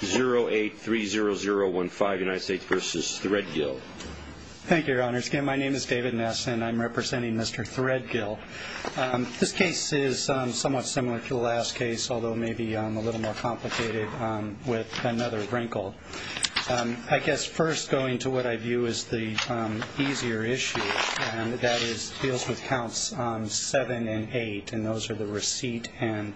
0830015 United States v. Threadgill. Thank you, Your Honor. Again, my name is David Ness and I'm representing Mr. Threadgill. This case is somewhat similar to the last case, although maybe a little more complicated with another wrinkle. I guess first going to what I view as the easier issue, and that is, it deals with counts 7 and 8, and those are the ones. And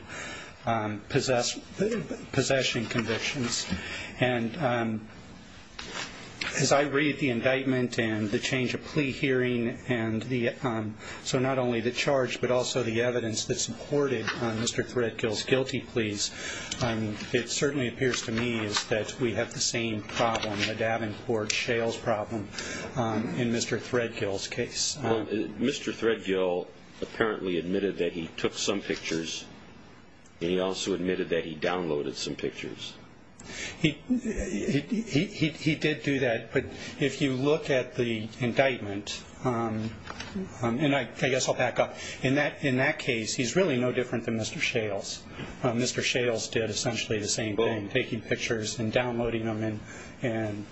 as I read the indictment and the change of plea hearing and the, so not only the charge but also the evidence that supported Mr. Threadgill's guilty pleas, it certainly appears to me that we have the same problem, the Davenport-Shales problem, in Mr. Threadgill's case. Well, Mr. Threadgill apparently admitted that he took some pictures and he also admitted that he downloaded some pictures. He did do that, but if you look at the indictment, and I guess I'll back up, in that case, he's really no different than Mr. Shales. Mr. Shales did essentially the same thing, taking pictures and downloading them and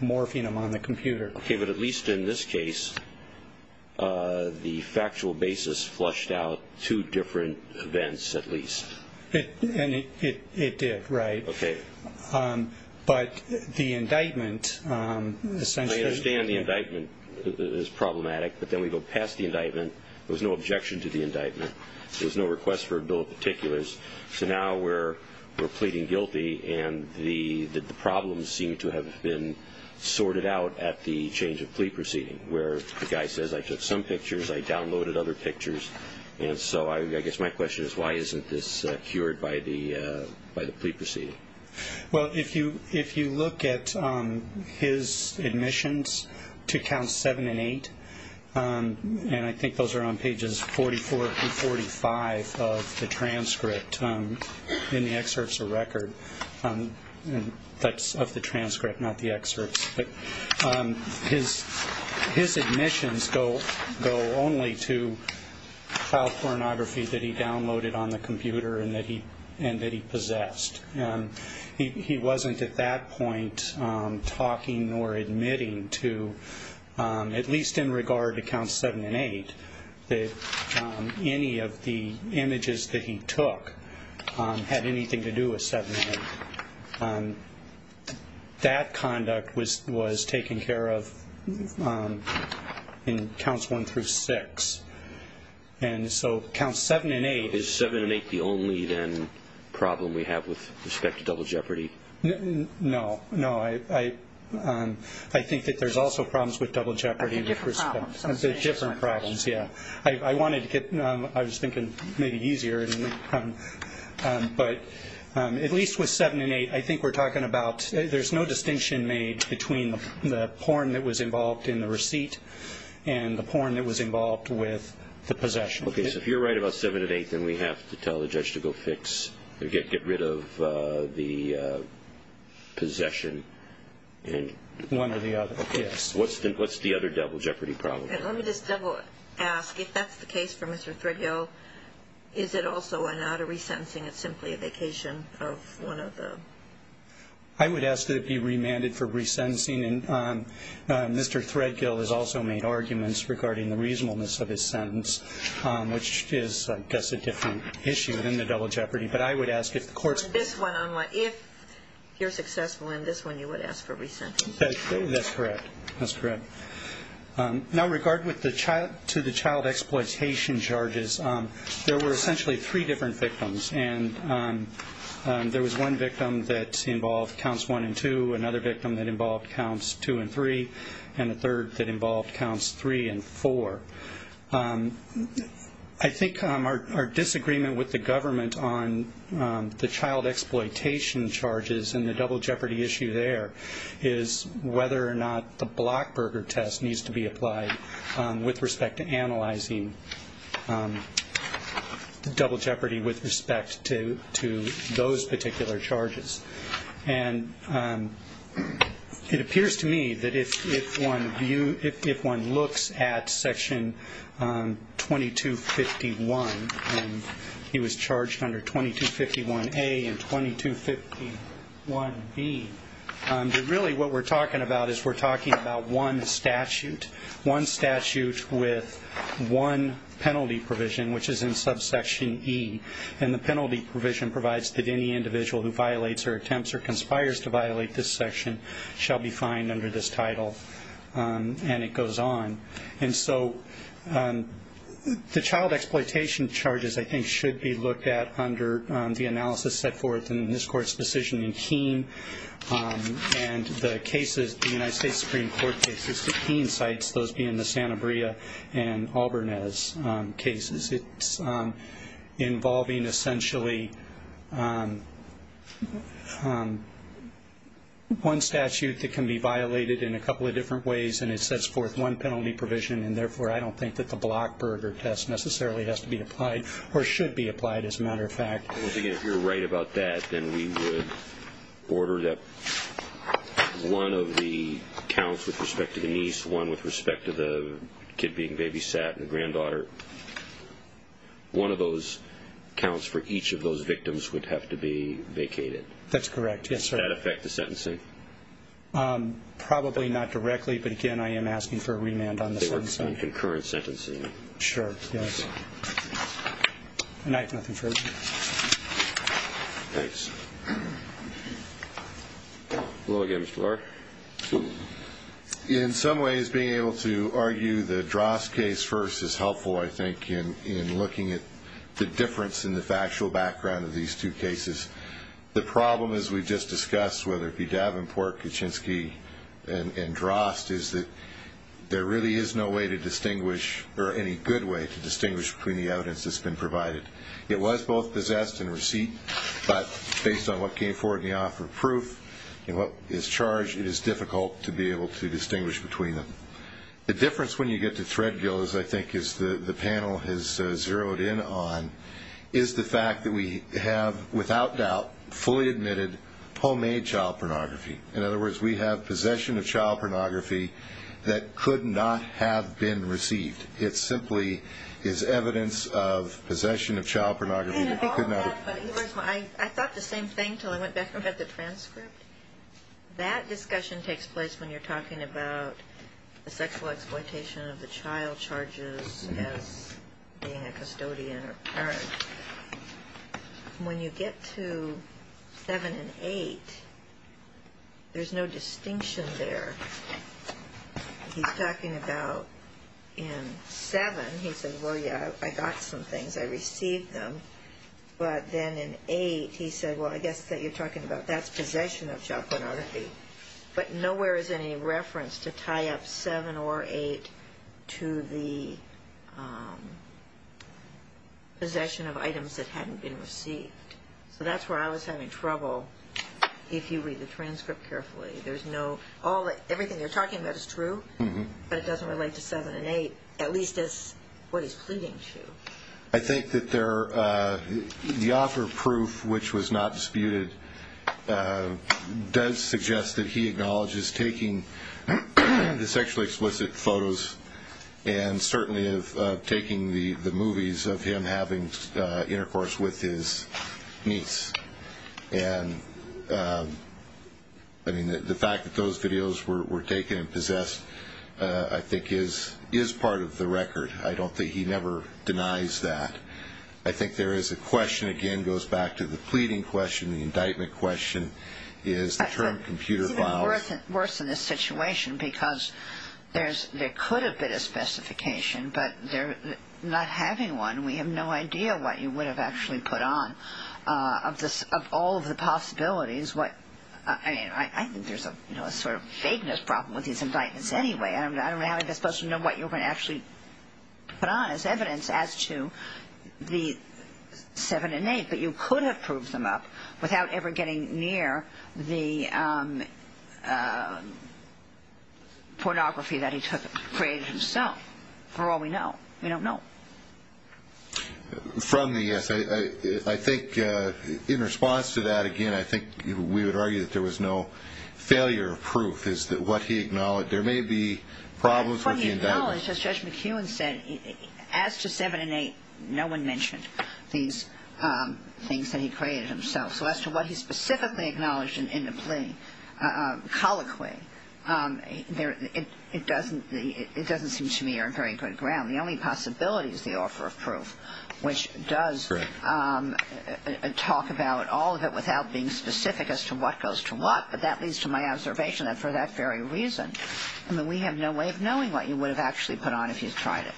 morphing them on the computer. Okay, but at least in this case, the factual basis flushed out two different events at least. It did, right. Okay. But the indictment essentially... I understand the indictment is problematic, but then we go past the indictment. There was no objection to the indictment. There was no request for a bill of particulars. So now we're pleading guilty and the problems seem to have been sorted out at the change of plea proceeding, where the guy says, I took some pictures, I downloaded other pictures, and so I guess my question is, why isn't this cured by the plea proceeding? Well, if you look at his admissions to Counts 7 and 8, and I think those are on pages 44 and 45 of the transcript in the excerpts of record, that's of the transcript, not the excerpts, but his admissions go only to child pornography that he downloaded on the computer and that he possessed. He wasn't at that point talking or admitting to, at least in regard to Counts 7 and 8, that any of the images that he took had anything to do with 7 and 8. That conduct was taken care of in Counts 1 through 6. And so Counts 7 and 8- Is 7 and 8 the only then problem we have with respect to double jeopardy? No, no. I think that there's also problems with double jeopardy with respect to- Different problems. Different problems, yeah. I wanted to get, I was thinking maybe easier, but at least with 7 and 8, I think we're talking about, there's no distinction made between the porn that was involved in the receipt and the porn that was involved with the possession. Okay, so if you're right about 7 and 8, then we have to tell the judge to go fix, get rid of the possession and- One or the other, yes. What's the other double jeopardy problem? Let me just double ask, if that's the case for Mr. Threadhill, is it also not a resentencing, it's simply a vacation of one of the- I would ask that it be remanded for resentencing. And Mr. Threadgill has also made arguments regarding the reasonableness of his sentence, which is, I guess, a different issue than the double jeopardy. But I would ask if the court's- This one, if you're successful in this one, you would ask for resentencing? That's correct. That's correct. Now, regarding to the child exploitation charges, there were two that involved counts 1 and 2, another victim that involved counts 2 and 3, and a third that involved counts 3 and 4. I think our disagreement with the government on the child exploitation charges and the double jeopardy issue there is whether or not the Blockberger test needs to be applied with respect to analyzing the double jeopardy with respect to those particular charges. And it appears to me that if one looks at Section 2251, and he was charged under 2251A and 2251B, that really what we're talking about is we're talking about one statute, one statute with one penalty provision, which is in subsection E. And the penalty provision provides that any individual who violates or attempts or conspires to violate this section shall be fined under this title. And it goes on. And so the child exploitation charges, I think, should be looked at under the analysis set forth in this Court's decision in Keene. And the cases, the United States Supreme Court cases, the Keene sites, those being the Santa Bria and Albarnez cases, it's involving essentially one statute that can be violated in a couple of different ways, and it sets forth one penalty provision. And therefore, I don't think that the Blockberger test necessarily has to be applied or should be applied, as a matter of fact. Once again, if you're right about that, then we would order that one of the counts with respect to the niece, one with respect to the kid being babysat and the granddaughter, one of those counts for each of those victims would have to be vacated. That's correct, yes, sir. Does that affect the sentencing? Probably not directly, but again, I am asking for a remand on the sentencing. They were in concurrent sentencing. Sure, yes. And I have nothing further. Hello again, Mr. Clark. In some ways, being able to argue the Drost case first is helpful, I think, in looking at the difference in the factual background of these two cases. The problem, as we've just discussed, whether it be Davenport, Kuczynski, and Drost, is that there really is no way to distinguish, or any good way to distinguish between the evidence that's been provided. It was both possessed and received, but based on what came forward in the offer of proof and what is charged, it is difficult to be able to distinguish between them. The difference when you get to Threadgill, as I think the panel has zeroed in on, is the fact that we have, without doubt, fully admitted homemade child pornography. In other words, we have possession of child pornography that could not have been received. It simply is evidence of possession of child pornography that could not have been received. I thought the same thing until I went back and read the transcript. That discussion takes place when you're talking about the sexual exploitation of the child charges as being a custodian or parent. When you get to 7 and 8, there's no distinction there. He's talking about in 7, he said, well, yeah, I got some things, I received them. But then in 8, he said, well, I guess that you're talking about that's possession of child pornography. But nowhere is any reference to tie up 7 or 8 to the possession of items that hadn't been received. So that's where I was having trouble, if you read the transcript carefully. There's no, everything you're talking about is true, but it doesn't relate to 7 and 8, at least as what he's pleading to. I think that the author proof, which was not disputed, does suggest that he acknowledges taking the sexually explicit photos and certainly of taking the movies of him having intercourse with his niece. And the fact that those videos were taken and possessed, I think, is part of the record. I don't think he never denies that. I think there is a question, again, goes back to the pleading question, the indictment question, is the term computer files. It's even worse in this situation because there could have been a specification, but not having one, we have no idea what you would have actually put on of all of the possibilities. I mean, I think there's a sort of vagueness problem with these indictments anyway. I don't know how they're supposed to know what you're going to actually put on as evidence as to the 7 and 8. But you could have proved them up without ever getting near the pornography that he took, created himself, for all we know. We don't know. From the essay, I think in response to that, again, I think we would argue that there was no failure of proof. There may be problems with the indictment. From the acknowledgment, as Judge McEwen said, as to 7 and 8, no one mentioned these things that he created himself. So as to what he specifically acknowledged in the plea, colloquy, it doesn't seem to me are very good ground. The only possibility is the offer of proof, which does talk about all of it without being specific as to what goes to what. But that leads to my observation that for that very reason, I mean, we have no way of knowing what you would have actually put on if you tried it.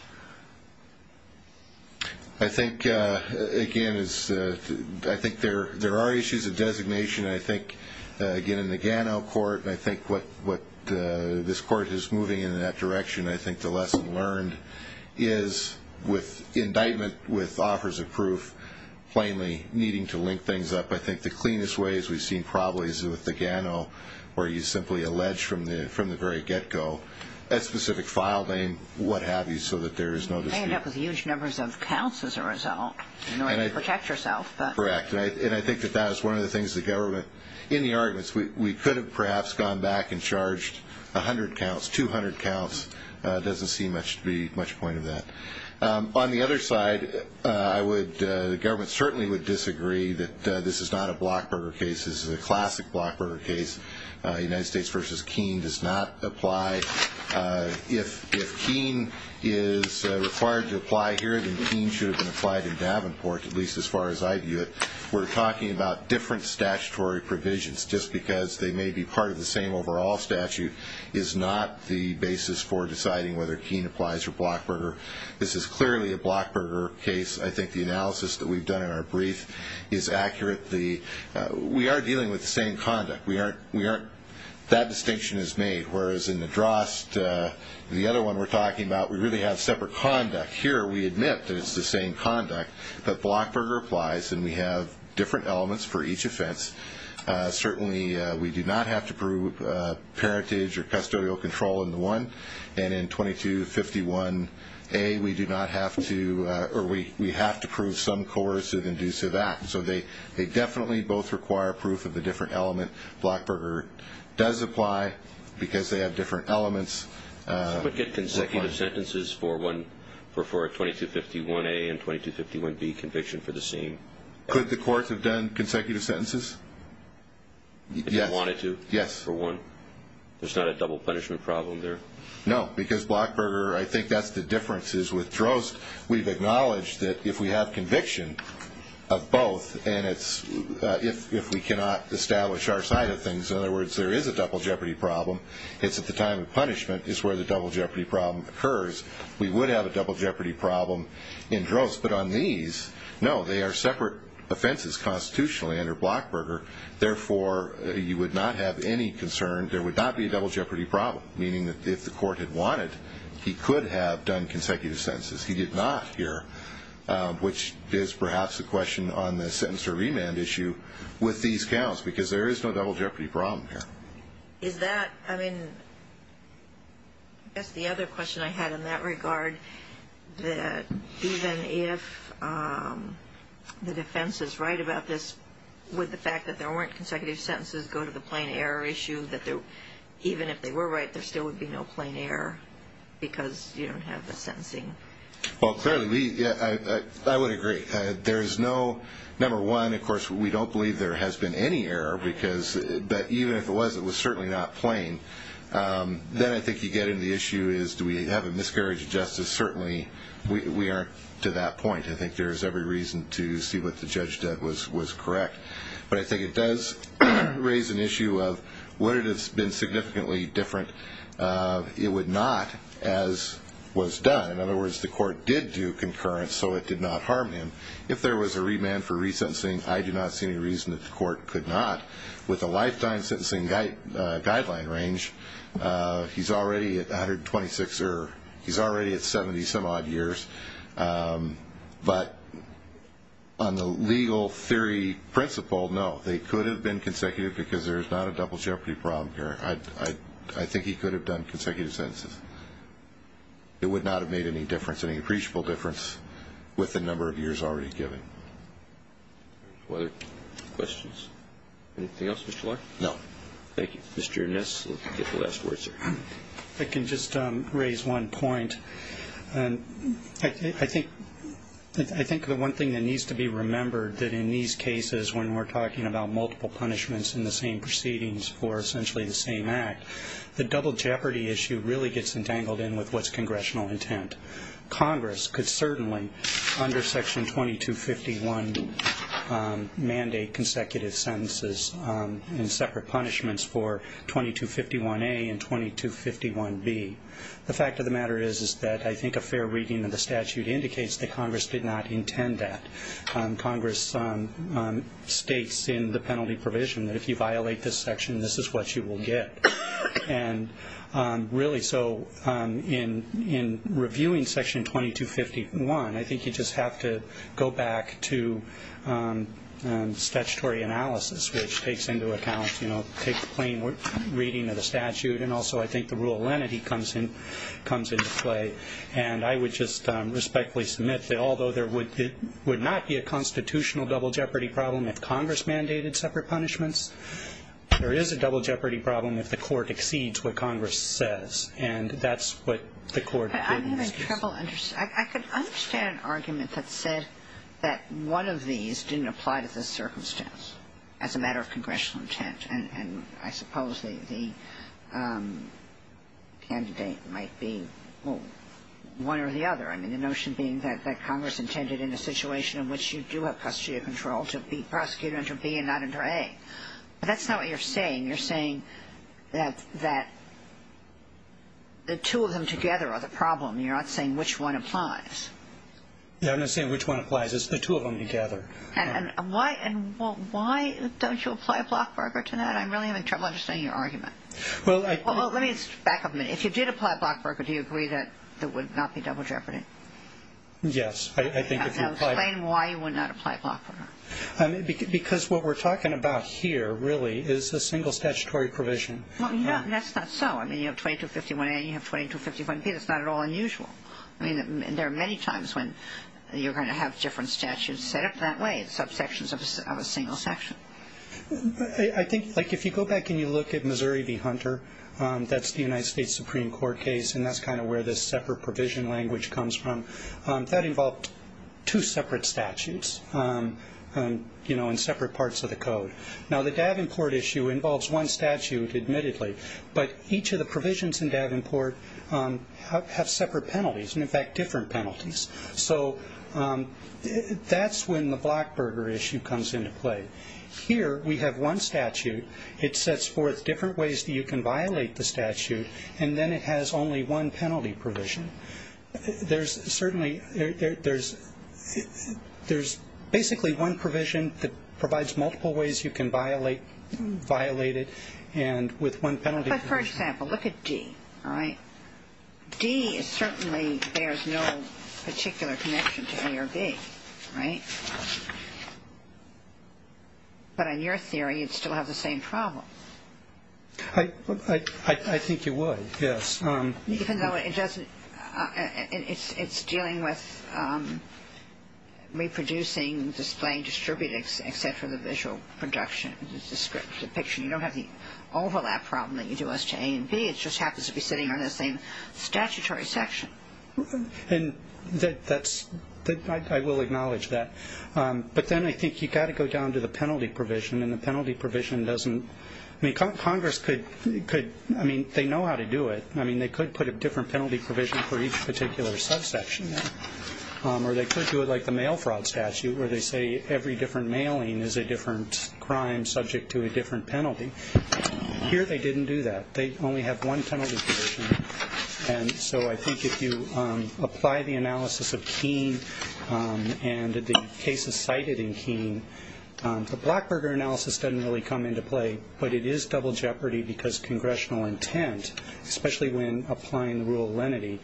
I think, again, I think there are issues of designation. I think, again, in the Gano court, and I think what this court is moving in that direction, I think the lesson learned is with indictment with offers of proof, plainly needing to link things up. I think the cleanest way is we've seen probably is with the Gano, where you simply allege from the very get-go a specific file name, what have you, so that there is no dispute. You end up with huge numbers of counts as a result in order to protect yourself. Correct. And I think that that is one of the things the government, in the arguments, we could have perhaps gone back and charged 100 counts, 200 counts. It doesn't seem to be much point of that. On the other side, I would, the government certainly would disagree that this is not a blockburger case. This is a classic blockburger case. United States v. Keene does not apply. If Keene is required to apply here, then Keene should have been applied in Davenport, at least as far as I view it. We're talking about different statutory provisions just because they may be part of the same overall statute is not the basis for deciding whether Keene applies or blockburger. This is clearly a blockburger case. I think the analysis that we've done in our brief is accurate. We are dealing with the same conduct. That distinction is made, whereas in the Drost, the other one we're talking about, we really have separate conduct. Here we admit that it's the same conduct, but blockburger applies and we have different elements for each offense. Certainly, we do not have to prove parentage or custodial control in the one, and in 2251A, we do not have to, or we have to prove some coercive inducive act. So they definitely both require proof of the different element. Blockburger does apply because they have different elements. But get consecutive sentences for 2251A and 2251B conviction for the same. Could the courts have done consecutive sentences? If they wanted to, for one. There's not a double punishment problem there? No, because blockburger, I think that's the difference is with Drost, we've acknowledged that if we have conviction of both, and if we cannot establish our side of things, in other words, there is a double jeopardy problem, it's at the time of punishment is where the double jeopardy problem occurs. We would have a double jeopardy problem in Drost, but on our separate offenses constitutionally under blockburger, therefore, you would not have any concern, there would not be a double jeopardy problem, meaning that if the court had wanted, he could have done consecutive sentences. He did not here, which is perhaps a question on the sentence or remand issue with these counts, because there is no double jeopardy problem here. Is that, I mean, that's the other question I had in that regard, that even if, you know, the defense is right about this, would the fact that there weren't consecutive sentences go to the plain error issue, that even if they were right, there still would be no plain error, because you don't have the sentencing? Well, clearly, I would agree. There's no, number one, of course, we don't believe there has been any error, because, but even if it was, it was certainly not plain. Then I think you get into the issue is do we have a miscarriage of justice? Certainly, we aren't to that point. I think there is every reason to see what the judge did was correct. But I think it does raise an issue of would it have been significantly different? It would not, as was done. In other words, the court did do concurrence, so it did not harm him. If there was a remand for resentencing, I do not see any reason that the court could not. With a lifetime sentencing guideline range, he's already at 126, or he's already at 70 some odd years. But on the legal theory principle, no, they could have been consecutive, because there's not a double jeopardy problem here. I think he could have done consecutive sentences. It would not have made any difference, any appreciable difference, with the number of years already given. Any questions? Anything else, Mr. Larkin? No. Thank you. Mr. Ernest, you get the last word, sir. I can just raise one point. I think the one thing that needs to be remembered that in these cases, when we're talking about multiple punishments in the same proceedings for essentially the same act, the double jeopardy issue really gets entangled in with what's congressional intent. Congress could certainly, under Section 2251, mandate consecutive sentences and separate punishments for 2251A and 2251B. The fact of the matter is that I think a fair reading of the statute indicates that Congress did not intend that. Congress states in the penalty provision that if you violate this section, this is what you will get. Really, so in reviewing Section 2251, I think you just have to go back to statutory analysis, which takes into account, you know, take the plain reading of the statute, and also I think the rule of lenity comes into play. And I would just respectfully submit that although there would not be a constitutional double jeopardy problem if Congress mandated separate punishments, there is a double jeopardy problem if the Court exceeds what Congress says. And that's what the Court did in this case. I'm having trouble understanding. I could understand an argument that said that one of these didn't apply to this circumstance as a matter of congressional intent. And I suppose the candidate might be, well, one or the other. I mean, the notion being that Congress intended in a situation in which you do have custody of control to prosecute under B and not under A. But that's not what you're saying. You're saying that the two of them together are the problem. You're not saying which one applies. Yeah, I'm not saying which one applies. It's the two of them together. And why don't you apply a block burger to that? I'm really having trouble understanding your argument. Well, let me back up a minute. If you did apply a block burger, do you agree that there would not be double jeopardy? Yes, I think if you apply... Explain why you would not apply a block burger. Because what we're talking about here, really, is a single statutory provision. Well, that's not so. I mean, you have 2251A and you have 2251B. That's not at all unusual. I mean, there are many times when you're going to have different statutes set up that way in subsections of a single section. I think, like, if you go back and you look at Missouri v. Hunter, that's the United States Supreme Court case, and that's kind of where this separate provision language comes from. That involved two separate statutes, you know, in separate parts of the code. Now, the Davenport issue involves one statute, admittedly, but each of the provisions in Davenport have separate penalties, and in fact, different penalties. So that's when the block burger issue comes into play. Here, we have one statute. It sets forth different ways that you can violate the statute, and then it has only one penalty provision. There's certainly... There's basically one provision that provides multiple ways you can violate it, and with one penalty... But, for example, look at D, all right? D certainly bears no particular connection to A or B, right? But in your theory, you'd still have the same problem. I think you would, yes. Even though it doesn't... It's dealing with reproducing, displaying, distributing, et cetera, the visual production, the depiction. You don't have the overlap problem that you do as to A and B. It just happens to be sitting on the same statutory section. And that's... I will acknowledge that. But then I think you've got to go down to the penalty provision, and the penalty provision doesn't... I mean, Congress could... I mean, they know how to do it. I mean, they could put a different penalty provision for each particular subsection. Or they could do it like the mail fraud statute, where they say every different mailing is a different crime subject to a different penalty. Here they didn't do that. They only have one penalty provision. And so I think if you apply the analysis of Keene and the cases cited in Keene, the Blackburger analysis doesn't really come into play, but it is double jeopardy because congressional intent, especially when applying the rule of lenity,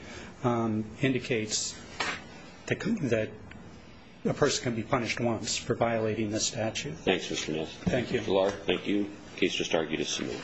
indicates that a person can be punished once for violating the statute. Thanks, Mr. Nilsen. Thank you. Dr. Lahr, thank you. The case just argued is submitted.